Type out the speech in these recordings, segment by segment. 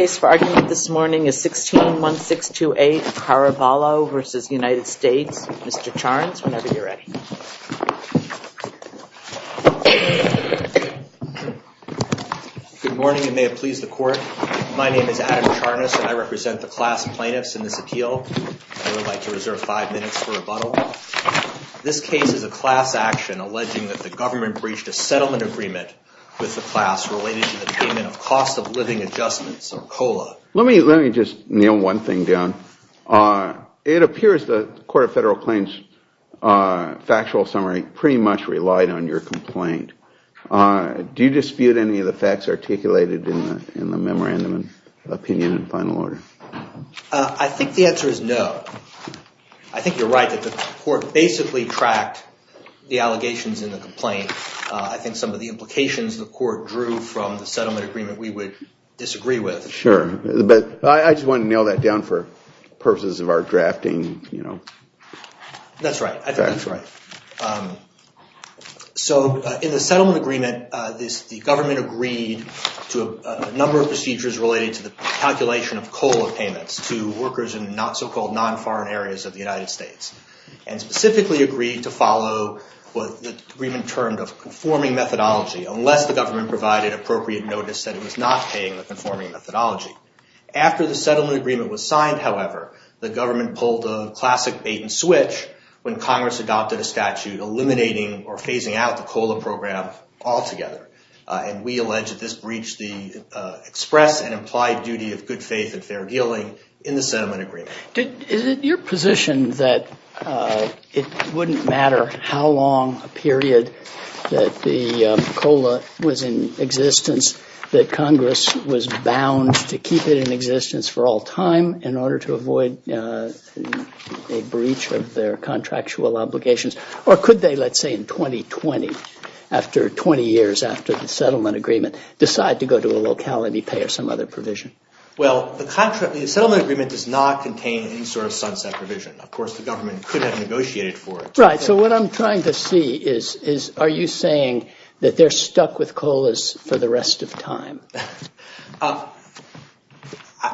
Mr. Charnes, whenever you're ready. Good morning, and may it please the court. My name is Adam Charnes, and I represent the class plaintiffs in this appeal. I would like to reserve five minutes for rebuttal. This case is a class action alleging that the government breached a settlement agreement with the class plaintiffs related to the payment of cost of living adjustments, or COLA. Let me just nail one thing down. It appears the Court of Federal Claims factual summary pretty much relied on your complaint. Do you dispute any of the facts articulated in the memorandum of opinion and final order? I think the answer is no. I think you're right that the court basically tracked the allegations in the complaint. I think some of the implications the court drew from the settlement agreement we would disagree with. Sure, but I just wanted to nail that down for purposes of our drafting. That's right. I think that's right. So in the settlement agreement, the government agreed to a number of procedures related to the calculation of COLA payments to workers in not so-called non-foreign areas of the United States, and specifically agreed to follow what the agreement termed a conforming methodology unless the government provided appropriate notice that it was not paying the conforming methodology. After the settlement agreement was signed, however, the government pulled a classic bait and switch when Congress adopted a statute eliminating or phasing out the COLA program altogether. And we allege that this breached the express and implied duty of good faith and fair dealing in the settlement agreement. Is it your position that it wouldn't matter how long a period that the COLA was in existence that Congress was bound to keep it in existence for all time in order to avoid a breach of their contractual obligations? Or could they, let's say in 2020, after 20 years after the settlement agreement, decide to go to a locality pay or some other provision? Well, the contract, the settlement agreement does not contain any sort of sunset provision. Of course, the government could have negotiated for it. Right. So what I'm trying to see is, is are you saying that they're stuck with COLAs for the rest of time?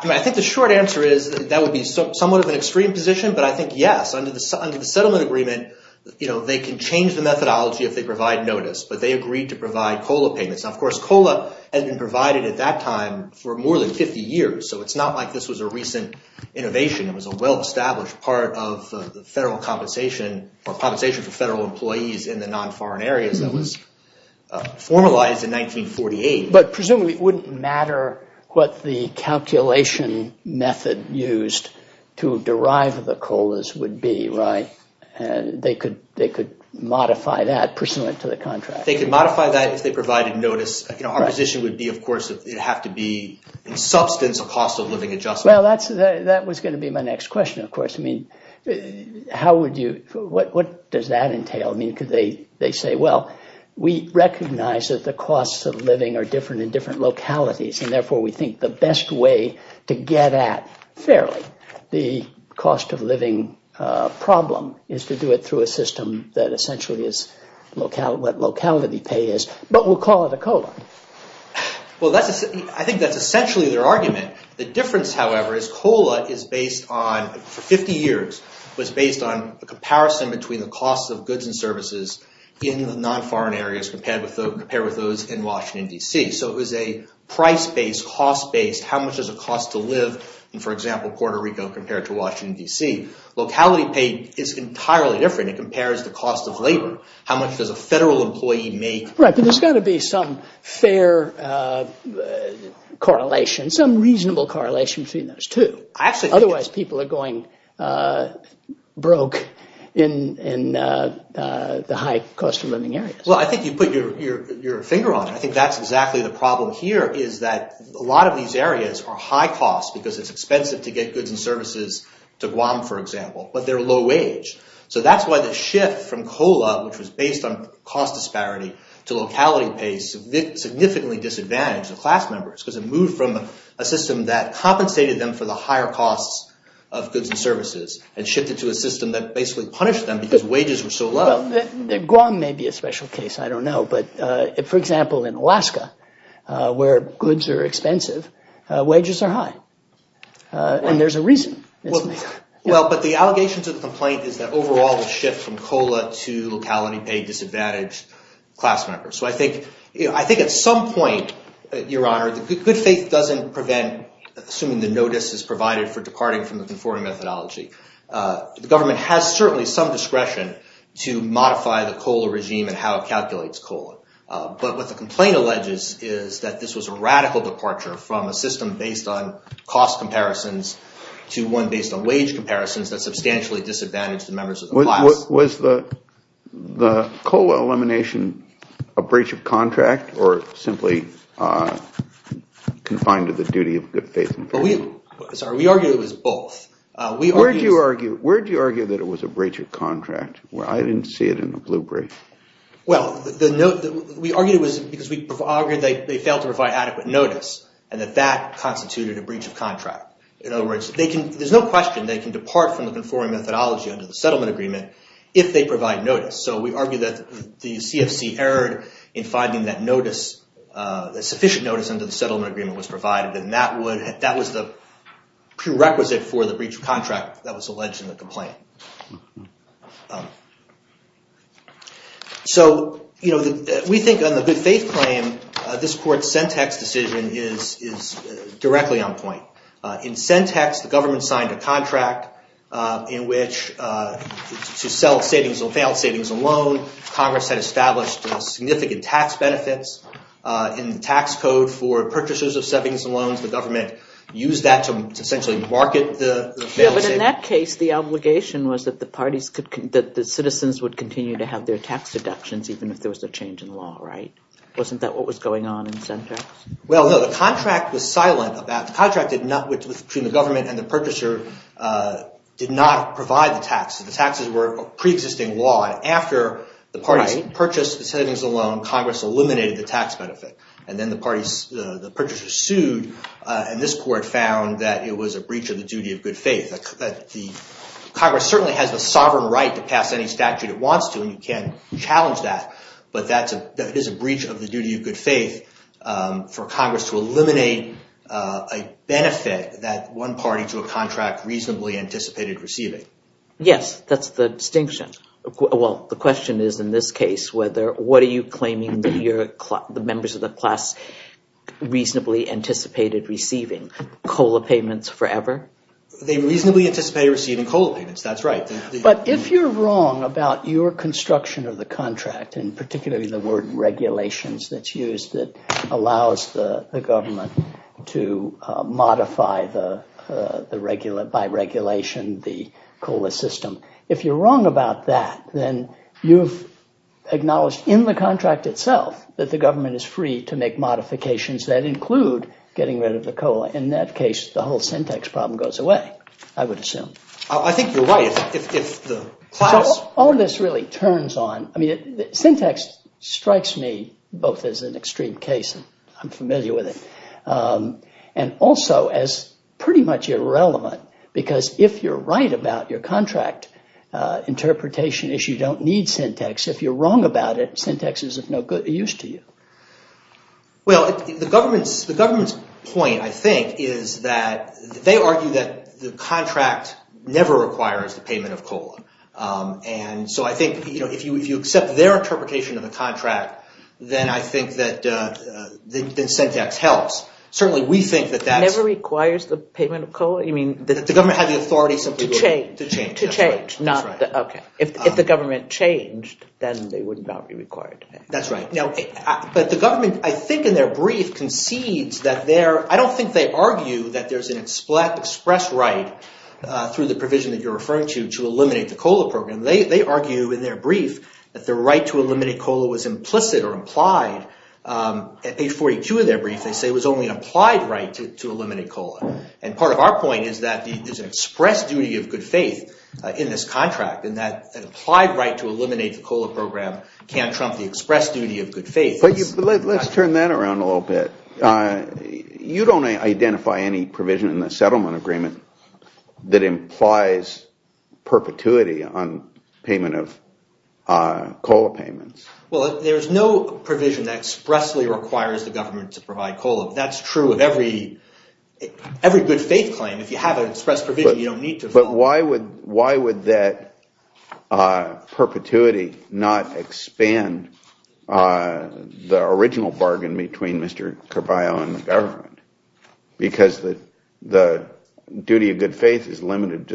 I think the short answer is that would be somewhat of an extreme position, but I think yes, under the settlement agreement, you know, they can change the methodology if they provide notice, but they agreed to provide COLA payments. Of course, COLA has been provided at that time for more than 50 years. So it's not like this was a recent innovation. It was a well-established part of the federal compensation or compensation for federal employees in the non-foreign areas that was formalized in 1948. But presumably, it wouldn't matter what the calculation method used to derive the COLAs would be, right? They could modify that pursuant to the contract. They could modify that if they provided notice. Our position would be, of course, it would have to be in substance a cost of living adjustment. Well, that was going to be my next question, of course. I mean, what does that entail? I mean, because they say, well, we recognize that the costs of living are different in different localities, and therefore, we think the best way to get at fairly the cost of But we'll call it a COLA. Well, I think that's essentially their argument. The difference, however, is COLA is based on, for 50 years, was based on a comparison between the costs of goods and services in the non-foreign areas compared with those in Washington, D.C. So it was a price-based, cost-based, how much does it cost to live in, for example, Puerto Rico compared to Washington, D.C. Locality pay is entirely different. It compares the cost of labor. How much does a federal employee make? Right, but there's got to be some fair correlation, some reasonable correlation between those two. Otherwise, people are going broke in the high cost of living areas. Well, I think you put your finger on it. I think that's exactly the problem here is that a lot of these areas are high cost because it's expensive to get goods and services to to locality pay significantly disadvantaged class members because it moved from a system that compensated them for the higher costs of goods and services and shifted to a system that basically punished them because wages were so low. Well, Guam may be a special case. I don't know. But, for example, in Alaska, where goods are expensive, wages are high. And there's a reason. Well, but the allegation to the complaint is that overall the shift from COLA to locality pay disadvantaged class members. So I think at some point, Your Honor, good faith doesn't prevent assuming the notice is provided for departing from the conforming methodology. The government has certainly some discretion to modify the COLA regime and how it calculates COLA. But what the complaint alleges is that this was a radical departure from a system based on cost comparisons to one based on wage comparisons that substantially disadvantaged the members of the class. Was the COLA elimination a breach of contract or simply confined to the duty of good faith? We argue it was both. Where do you argue that it was a breach of contract? I didn't see it in the blue brief. Well, we argued it was because they failed to provide adequate notice and that that constituted a breach of contract. In other words, there's no question they can depart from the conforming methodology under the settlement agreement if they provide notice. So we argue that the CFC erred in finding that sufficient notice under the settlement agreement was provided and that was the prerequisite for the breach of contract that was alleged in the complaint. So we think on the good faith claim, this court's Sentex decision is directly on point. In Sentex, the government signed a contract in which to sell failed savings and loan, Congress had established significant tax benefits in the tax code for purchasers of savings and loans. The government used that to essentially market the failed savings. But in that case, the obligation was that the citizens would continue to have their tax deductions even if there was a change in law, right? Wasn't that what was going on in Sentex? Well, no. The contract was silent. The contract between the government and the purchaser did not provide the tax. The taxes were a preexisting law. And after the parties purchased the savings and loan, Congress eliminated the tax benefit. And then the purchasers sued, and this court found that it was a breach of the duty of good faith. Congress certainly has the sovereign right to pass any statute it wants to, and we can challenge that. But that is a breach of the duty of good faith for Congress to eliminate a benefit that one party to a contract reasonably anticipated receiving. Yes, that's the distinction. Well, the question is in this case, what are you claiming that the members of the class reasonably anticipated receiving? COLA payments forever? They reasonably anticipated receiving COLA payments. That's right. But if you're wrong about your construction of the contract, and particularly the word regulations that's used that allows the government to modify by regulation the COLA system, if you're wrong about that, then you've acknowledged in the contract itself that the government is free to make modifications that include getting rid of the COLA. In that case, the whole Sentex problem goes away, I would assume. I think you're right. If the class... All of this really turns on... I mean, Sentex strikes me both as an extreme case, and I'm familiar with it, and also as pretty much irrelevant, because if you're right about your contract interpretation issue, you don't need Sentex. If you're wrong about it, Sentex is of no use to you. Well, the government's point, I think, is that they argue that the contract never requires the payment of COLA. And so I think if you accept their interpretation of the contract, then I think that Sentex helps. Certainly, we think that that's... Never requires the payment of COLA? You mean... The government had the authority simply to... To change. To change. That's right. That's right. But the government, I think in their brief, concedes that they're... I don't think they argue that there's an express right, through the provision that you're referring to, to eliminate the COLA program. They argue in their brief that the right to eliminate COLA was implicit or implied. At page 42 of their brief, they say it was only an applied right to eliminate COLA. And part of our point is that there's an express duty of good faith in this contract, and that an applied right to eliminate the COLA program can't trump the express duty of good faith. Let's turn that around a little bit. You don't identify any provision in the settlement agreement that implies perpetuity on payment of COLA payments. Well, there's no provision that expressly requires the government to provide COLA. That's true of every good faith claim. If you have an express provision, you don't need to... But why would that perpetuity not expand the original bargain between Mr. Carvalho and the government? Because the duty of good faith is limited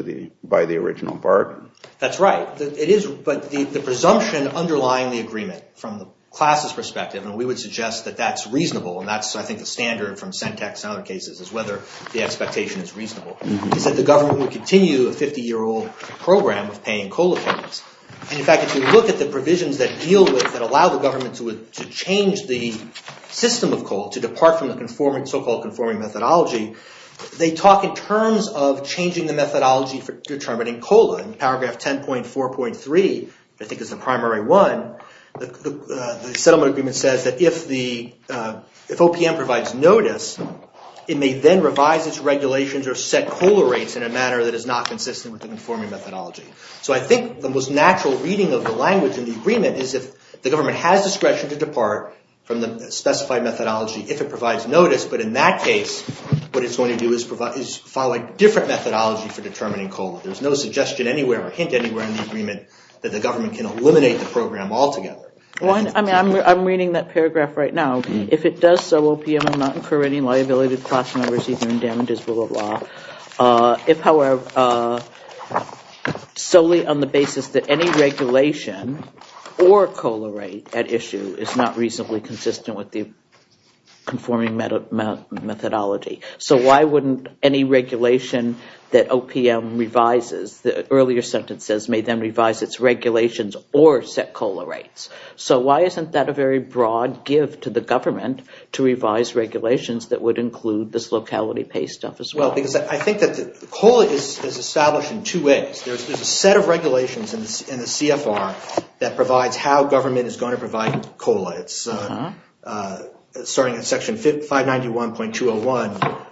by the original bargain. That's right. But the presumption underlying the agreement, from the class's perspective, and we would suggest that that's reasonable, and that's, I think, the standard from Sentex and other cases, is whether the expectation is reasonable, is that the government would continue a 50-year-old program of paying COLA payments. And in fact, if you look at the provisions that deal with, that allow the government to change the system of COLA, to depart from the so-called conforming methodology, they talk in terms of changing the methodology for determining COLA. In paragraph 10.4.3, I think is the primary one, the settlement agreement says that if OPM provides notice, it may then revise its regulations or set COLA rates in a manner that is not consistent with the conforming methodology. So I think the most natural reading of the language in the agreement is if the government has discretion to depart from the specified methodology if it provides notice, but in that case, what it's going to do is follow a different methodology for determining COLA. There's no suggestion anywhere or hint anywhere in the agreement that the government can eliminate the program altogether. I'm reading that paragraph right now. If it does so, OPM will not incur any liability to class members either in damages or the law. If, however, solely on the basis that any regulation or COLA rate at issue is not reasonably consistent with the conforming methodology. So why wouldn't any regulation that OPM revises, the earlier sentence says may then revise its regulations or set COLA rates. So why isn't that a very broad give to the government to revise regulations that would include this locality pay stuff as well? Because I think that the COLA is established in two ways. There's a set of regulations in the CFR that provides how government is going to provide COLA. It's starting in section 591.201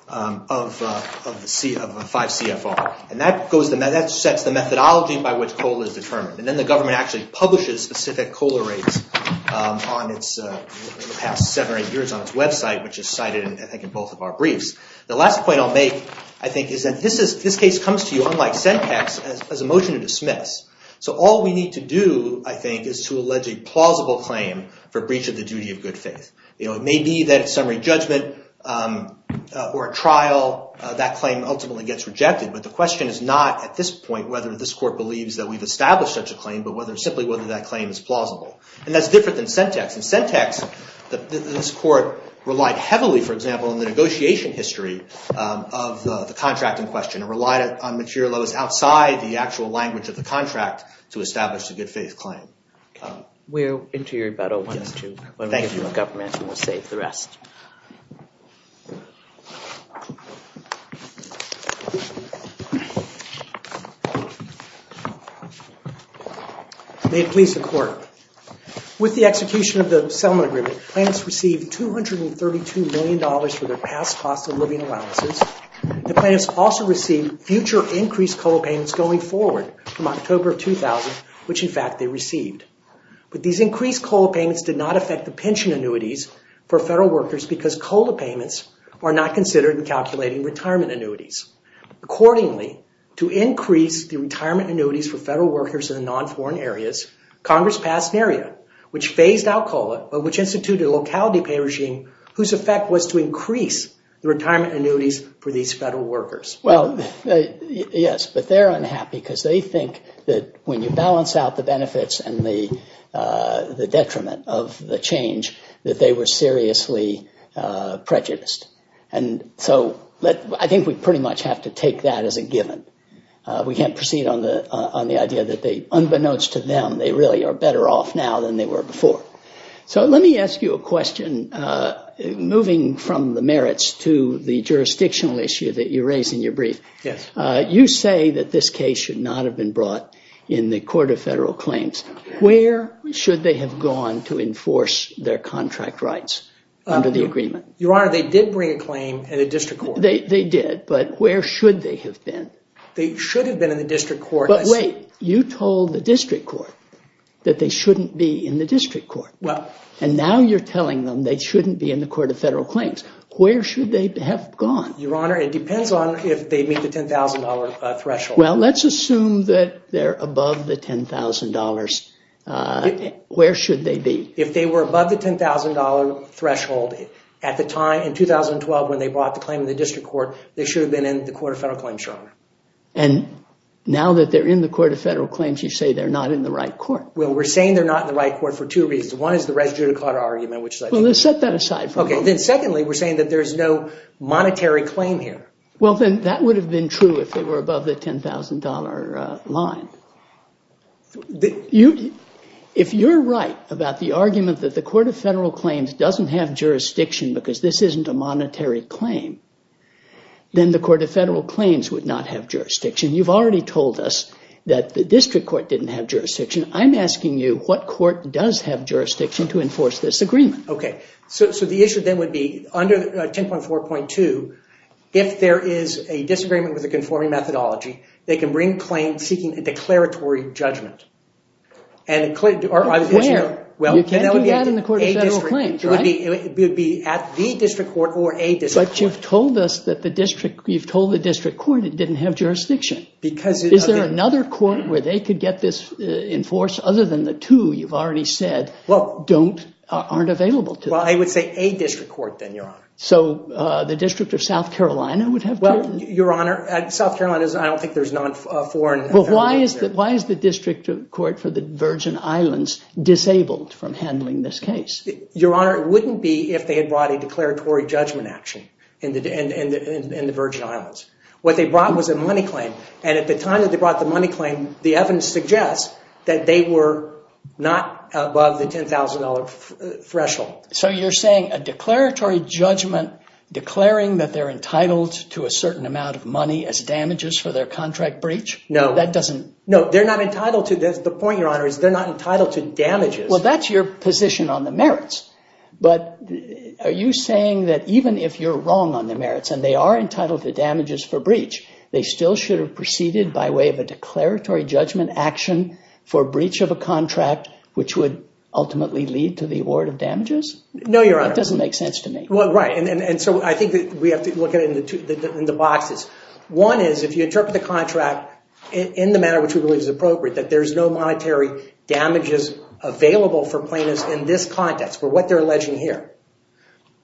of 5 CFR. And that sets the methodology by which COLA is determined. And then the government actually publishes specific COLA rates in the past seven or eight years on its website, which is cited, I think, in both of our briefs. The last point I'll make, I think, is that this case comes to you, unlike SENTACs, as a motion to dismiss. So all we need to do, I think, is to allege a plausible claim for breach of the duty of good faith. It may be that it's summary judgment or a trial. That claim ultimately gets rejected. But the question is not, at this point, whether this court believes that we've established such a claim, but simply whether that claim is plausible. And that's different than SENTACs. In SENTACs, this court relied heavily, for example, on the negotiation history of the contracting question. It relied on material that was outside the actual language of the contract to establish a good faith claim. We'll enter your rebuttal when we give you a government, and we'll save the rest. May it please the court. With the execution of the settlement agreement, plaintiffs received $232 million for their past cost of living allowances. The plaintiffs also received future increased COLA payments going forward from October of 2000, which, in fact, they received. But these increased COLA payments did not affect the pension annuities for federal workers because COLA payments are not considered in calculating retirement annuities. Accordingly, to increase the retirement annuities for federal workers in the non-foreign areas, Congress passed NERIA, which phased out COLA, but which instituted a locality pay regime whose effect was to increase the retirement annuities for these federal workers. Well, yes, but they're unhappy because they think that when you balance out the benefits and the detriment of the change, that they were seriously prejudiced. And so I think we pretty much have to take that as a given. We can't proceed on the idea that they, unbeknownst to them, they really are better off now than they were before. So let me ask you a question. Moving from the merits to the jurisdictional issue that you raised in your brief, you say that this case should not have been brought in the Court of Federal Claims. Where should they have gone to enforce their contract rights under the agreement? Your Honor, they did bring a claim in the district court. They did, but where should they have been? They should have been in the district court. But wait, you told the district court that they shouldn't be in the district court. And now you're telling them they shouldn't be in the Court of Federal Claims. Where should they have gone? Your Honor, it depends on if they meet the $10,000 threshold. Well, let's assume that they're above the $10,000. Where should they be? If they were above the $10,000 threshold at the time, in 2012, when they brought the claim in the district court, they should have been in the Court of Federal Claims, Your Honor. And now that they're in the Court of Federal Claims, you say they're not in the right court. Well, we're saying they're not in the right court for two reasons. One is the res judicata argument, which is... Well, let's set that aside for now. Okay. Then secondly, we're saying that there's no monetary claim here. Well, then that would have been true if they were above the $10,000 line. If you're right about the argument that the Court of Federal Claims doesn't have jurisdiction because this isn't a monetary claim, then the Court of Federal Claims would not have jurisdiction. You've already told us that the district court didn't have jurisdiction. I'm asking you what court does have jurisdiction to enforce this agreement. Okay. So the issue then would be, under 10.4.2, if there is a disagreement with a conforming methodology, they can bring a claim seeking a declaratory judgment. Where? You can't do that in the Court of Federal Claims, right? It would be at the district court or a district court. But you've told the district court it didn't have jurisdiction. Is there another court where they could get this enforced other than the two you've already said aren't available? Well, I would say a district court, then, Your Honor. So the District of South Carolina would have jurisdiction? Well, Your Honor, South Carolina, I don't think there's non-foreign... Well, why is the District Court for the Virgin Islands disabled from handling this case? Your Honor, it wouldn't be if they had brought a declaratory judgment action in the Virgin Islands. What they brought was a money claim, and at the time that they brought the money claim, the evidence suggests that they were not above the $10,000 threshold. So you're saying a declaratory judgment declaring that they're entitled to a certain amount of money as damages for their contract breach? No. That doesn't... No, they're not entitled to... The point, Your Honor, is they're not entitled to damages. Well, that's your position on the merits. But are you saying that even if you're wrong on the merits, and they are entitled to damages for breach, they still should have proceeded by way of a declaratory judgment action for breach of a contract, which would ultimately lead to the award of damages? No, Your Honor. That doesn't make sense to me. Well, right, and so I think that we have to look at it in the boxes. One is, if you interpret the contract in the manner which we believe is appropriate, that there's no monetary damages available for plaintiffs in this context, for what they're alleging here.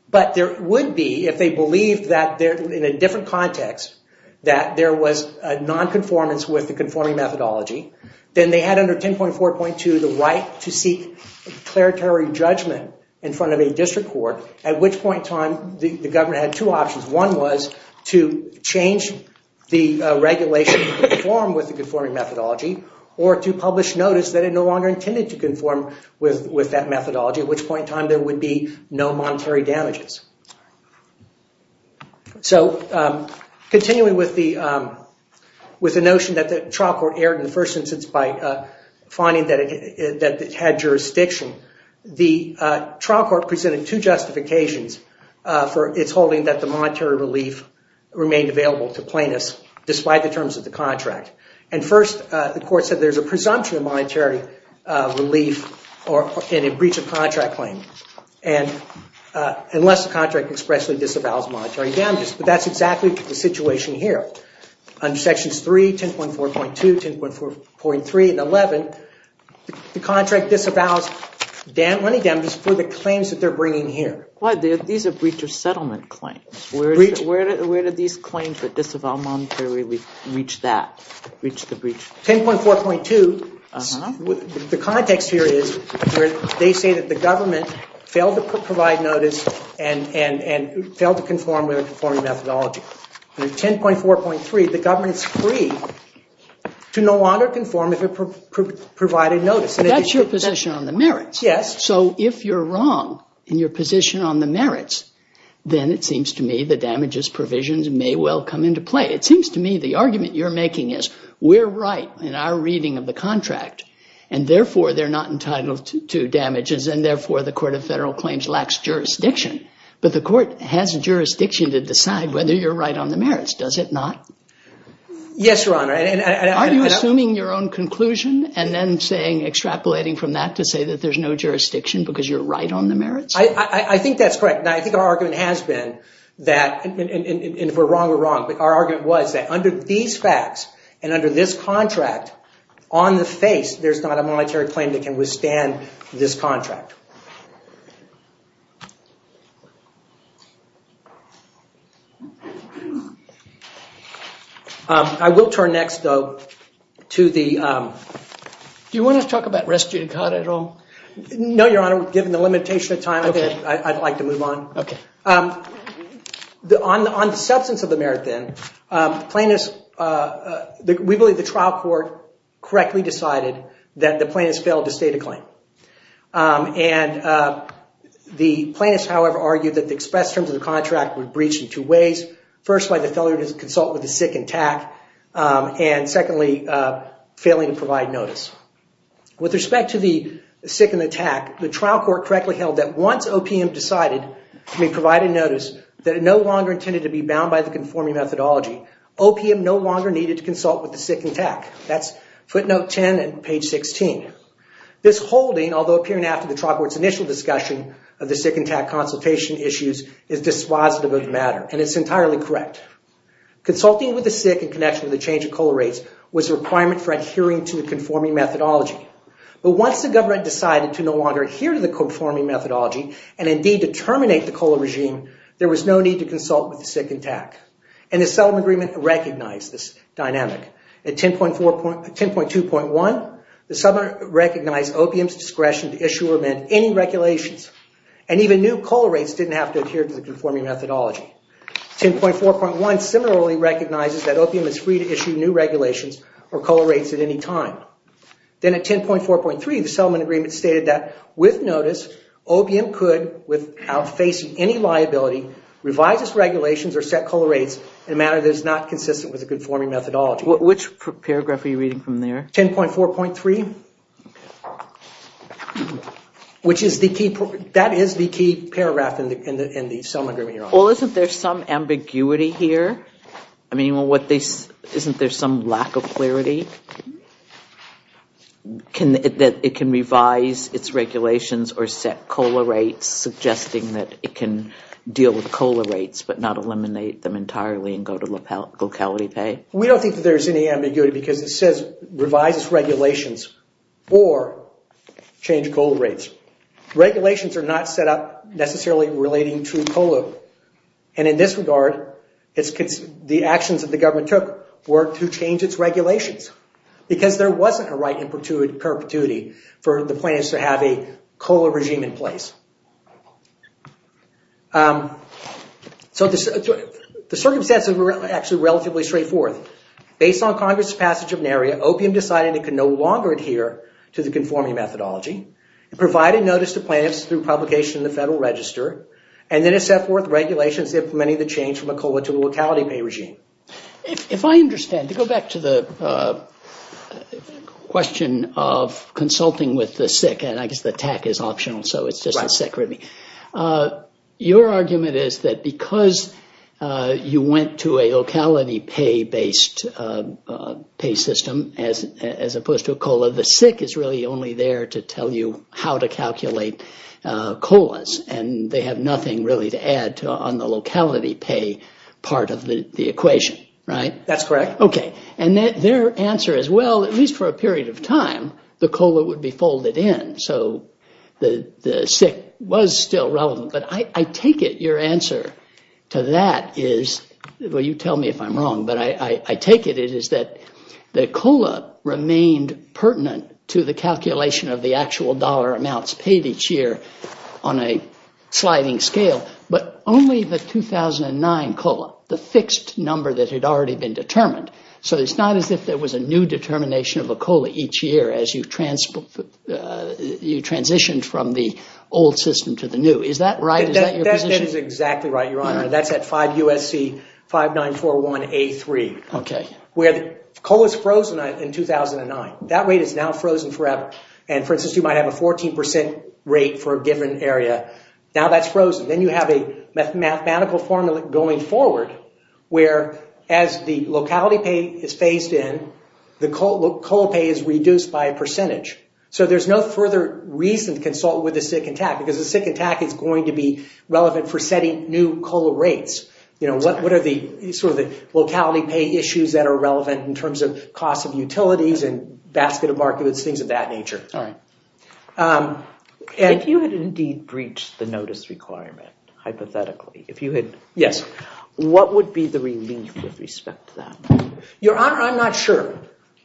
But there would be, if they believed that in a different context, that there was a non-conformance with the conforming methodology, then they had under 10.4.2 the right to seek declaratory judgment in front of a district court, at which point in time the governor had two options. One was to change the regulation to conform with the conforming methodology, or to publish notice that it no longer intended to conform with that methodology, at which point in time there would be no monetary damages. So, continuing with the notion that the trial court erred in the first instance by finding that it had jurisdiction, the trial court presented two justifications for its holding that the monetary relief remained available to plaintiffs, despite the terms of the contract. And first, the court said there's a presumption of monetary relief in a breach of contract claim, unless the contract expressly disavows monetary damages. But that's exactly the situation here. Under Sections 3, 10.4.2, 10.4.3, and 11, the contract disavows money damages for the claims that they're bringing here. These are breach of settlement claims. Where do these claims that disavow monetary relief reach that? 10.4.2, the context here is they say that the government failed to provide notice and failed to conform with the conforming methodology. Under 10.4.3, the government is free to no longer conform if it provided notice. That's your position on the merits. Yes. So if you're wrong in your position on the merits, then it seems to me the damages provisions may well come into play. It seems to me the argument you're making is we're right in our reading of the contract, and therefore they're not entitled to damages, and therefore the Court of Federal Claims lacks jurisdiction. But the court has jurisdiction to decide whether you're right on the merits, does it not? Yes, Your Honor. Are you assuming your own conclusion and then saying, extrapolating from that to say that there's no jurisdiction because you're right on the merits? I think that's correct. Now, I think our argument has been that, and if we're wrong, we're wrong, but our argument was that under these facts and under this contract, on the face, there's not a monetary claim that can withstand this contract. I will turn next, though, to the… Do you want to talk about res judicata at all? No, Your Honor. Given the limitation of time, I'd like to move on. Okay. On the substance of the merit, then, plaintiffs… we believe the trial court correctly decided that the plaintiffs failed to state a claim. And the plaintiffs, however, argued that the express terms of the contract were breached in two ways. First, by the failure to consult with the sick and tack, and secondly, failing to provide notice. With respect to the sick and the tack, the trial court correctly held that once OPM decided to provide a notice, that it no longer intended to be bound by the conforming methodology, OPM no longer needed to consult with the sick and tack. That's footnote 10 and page 16. This holding, although appearing after the trial court's initial discussion of the sick and tack consultation issues, is dispositive of the matter, and it's entirely correct. Consulting with the sick in connection with the change of COLA rates was a requirement for adhering to the conforming methodology. But once the government decided to no longer adhere to the conforming methodology and, indeed, to terminate the COLA regime, there was no need to consult with the sick and tack. And the settlement agreement recognized this dynamic. At 10.2.1, the settlement recognized OPM's discretion to issue or amend any regulations, and even new COLA rates didn't have to adhere to the conforming methodology. 10.4.1 similarly recognizes that OPM is free to issue new regulations or COLA rates at any time. Then at 10.4.3, the settlement agreement stated that, with notice, OPM could, without facing any liability, revise its regulations or set COLA rates in a manner that is not consistent with the conforming methodology. Which paragraph are you reading from there? 10.4.3, which is the key paragraph in the settlement agreement you're on. Well, isn't there some ambiguity here? I mean, isn't there some lack of clarity that it can revise its regulations or set COLA rates, suggesting that it can deal with COLA rates but not eliminate them entirely and go to locality pay? We don't think that there's any ambiguity because it says, revise its regulations or change COLA rates. Regulations are not set up necessarily relating to COLA. And in this regard, the actions that the government took were to change its regulations because there wasn't a right in perpetuity for the plaintiffs to have a COLA regime in place. So the circumstances were actually relatively straightforward. Based on Congress' passage of NARIA, OPM decided it could no longer adhere to the conforming methodology. It provided notice to plaintiffs through publication in the Federal Register, and then it set forth regulations implementing the change from a COLA to a locality pay regime. If I understand, to go back to the question of consulting with the SIC, and I guess the TAC is optional, so it's just the SIC. Your argument is that because you went to a locality pay-based pay system as opposed to a COLA, the SIC is really only there to tell you how to calculate COLAs, and they have nothing really to add on the locality pay part of the equation, right? That's correct. And their answer is, well, at least for a period of time, the COLA would be folded in. So the SIC was still relevant, but I take it your answer to that is, well, you tell me if I'm wrong, but I take it it is that the COLA remained pertinent to the calculation of the actual dollar amounts paid each year on a sliding scale, but only the 2009 COLA, the fixed number that had already been determined. So it's not as if there was a new determination of a COLA each year as you transitioned from the old system to the new. Is that right? Is that your position? That is exactly right, Your Honor. That's at 5 U.S.C. 5941A3, where the COLA is frozen in 2009. That rate is now frozen forever. And for instance, you might have a 14% rate for a given area. Now that's frozen. Then you have a mathematical formula going forward where as the locality pay is phased in, the COLA pay is reduced by a percentage. So there's no further reason to consult with the SIC and TAC because the SIC and TAC is going to be relevant for setting new COLA rates. You know, what are the sort of locality pay issues that are relevant in terms of cost of utilities and basket of markets, things of that nature. If you had indeed breached the notice requirement, hypothetically, if you had... Yes. What would be the relief with respect to that? Your Honor, I'm not sure.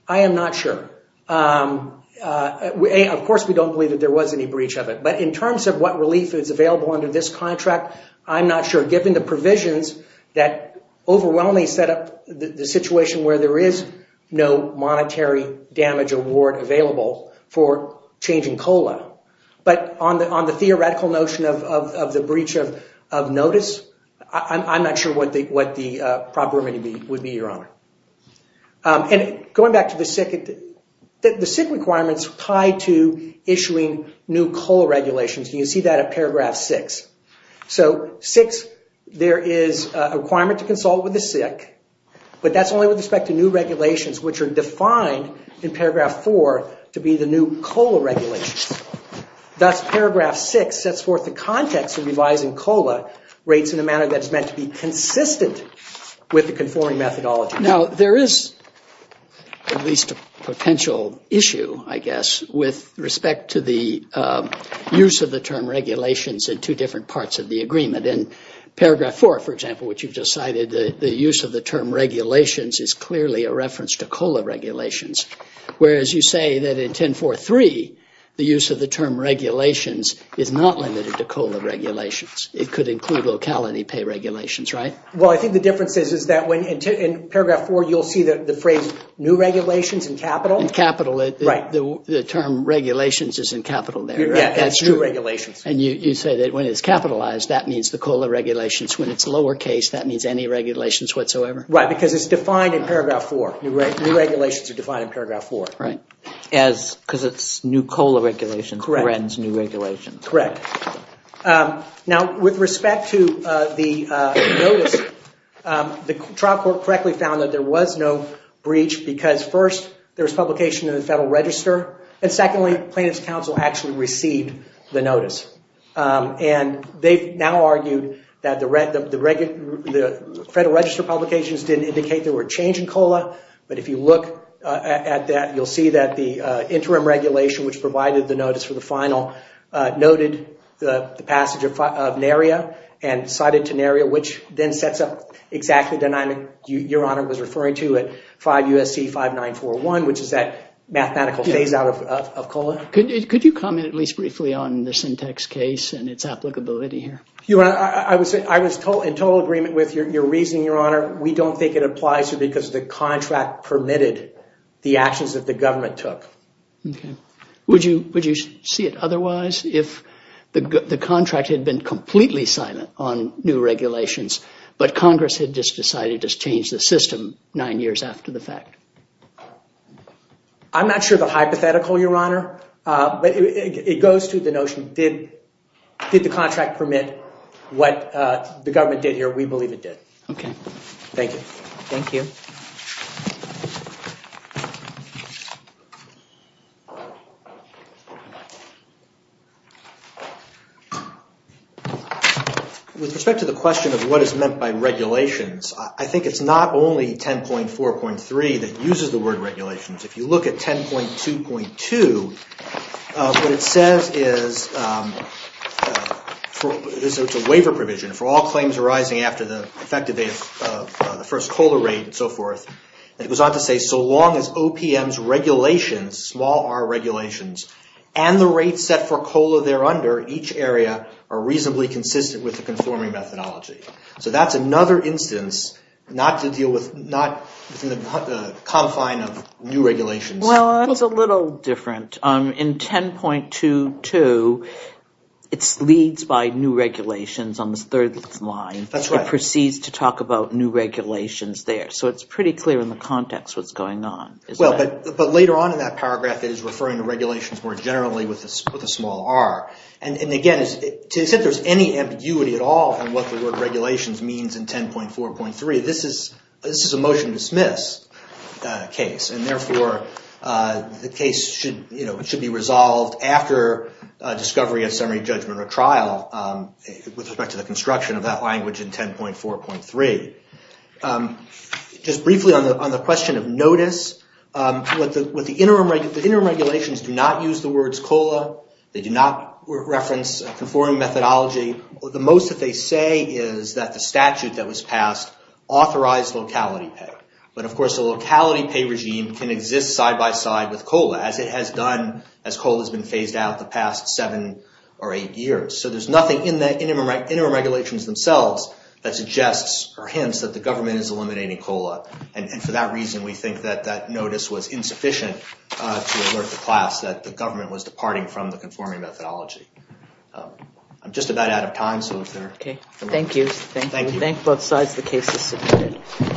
I am not sure. Of course, we don't believe that there was any breach of it. But in terms of what relief is available under this contract, I'm not sure. We're given the provisions that overwhelmingly set up the situation where there is no monetary damage award available for changing COLA. But on the theoretical notion of the breach of notice, I'm not sure what the proper remedy would be, Your Honor. And going back to the SIC, the SIC requirements tie to issuing new COLA regulations. You see that in paragraph six. So, six, there is a requirement to consult with the SIC, but that's only with respect to new regulations, which are defined in paragraph four to be the new COLA regulations. Thus, paragraph six sets forth the context of revising COLA rates in a manner that is meant to be consistent with the conforming methodology. Now, there is at least a potential issue, I guess, with respect to the use of the term regulations in two different parts of the agreement. In paragraph four, for example, which you've just cited, the use of the term regulations is clearly a reference to COLA regulations, whereas you say that in 10.4.3, the use of the term regulations is not limited to COLA regulations. It could include locality pay regulations, right? Well, I think the difference is that in paragraph four, you'll see the phrase new regulations in capital. In capital, the term regulations is in capital there. Yeah, it's new regulations. And you say that when it's capitalized, that means the COLA regulations. When it's lowercase, that means any regulations whatsoever. Right, because it's defined in paragraph four. New regulations are defined in paragraph four. Right. Because it's new COLA regulations. Correct. New regulations. Correct. Now, with respect to the notice, the trial court correctly found that there was no breach because first, there was publication in the Federal Register. And secondly, plaintiff's counsel actually received the notice. And they've now argued that the Federal Register publications didn't indicate there were a change in COLA. But if you look at that, you'll see that the interim regulation, which provided the notice for the final, noted the passage of NARIA and cited to NARIA, which then sets up exactly the nine that Your Honor was referring to at 5 U.S.C. 5941, which is that mathematical phase-out of COLA. Could you comment at least briefly on the syntax case and its applicability here? Your Honor, I was in total agreement with your reasoning, Your Honor. We don't think it applies here because the contract permitted the actions that the government took. Would you see it otherwise if the contract had been completely silent on new regulations, but Congress had just decided to change the system nine years after the fact? I'm not sure of the hypothetical, Your Honor. It goes to the notion, did the contract permit what the government did here? We believe it did. Okay. Thank you. Thank you. Thank you. With respect to the question of what is meant by regulations, I think it's not only 10.4.3 that uses the word regulations. If you look at 10.2.2, what it says is, it's a waiver provision for all claims arising after the effective date of the first COLA rate and so forth. It goes on to say, so long as OPM's regulations, small r regulations, and the rate set for COLA there under each area are reasonably consistent with the conforming methodology. So that's another instance not to deal with, not within the confine of new regulations. Well, that's a little different. In 10.2.2, it leads by new regulations on the third line. That's right. It proceeds to talk about new regulations there. So it's pretty clear in the context what's going on. But later on in that paragraph, it is referring to regulations more generally with a small r. And again, to say there's any ambiguity at all in what the word regulations means in 10.4.3, this is a motion to dismiss case. And therefore, the case should be resolved after discovery of summary judgment or trial with respect to the construction of that language in 10.4.3. Just briefly on the question of notice, the interim regulations do not use the words COLA. They do not reference conforming methodology. The most that they say is that the statute that was passed authorized locality pay. But of course, a locality pay regime can exist side by side with COLA, as it has done as COLA has been phased out the past seven or eight years. So there's nothing in the interim regulations themselves that suggests or hints that the government is eliminating COLA. And for that reason, we think that that notice was insufficient to alert the class that the government was departing from the conforming methodology. I'm just about out of time. Okay. Thank you. Thank you. Thank both sides. The case is submitted.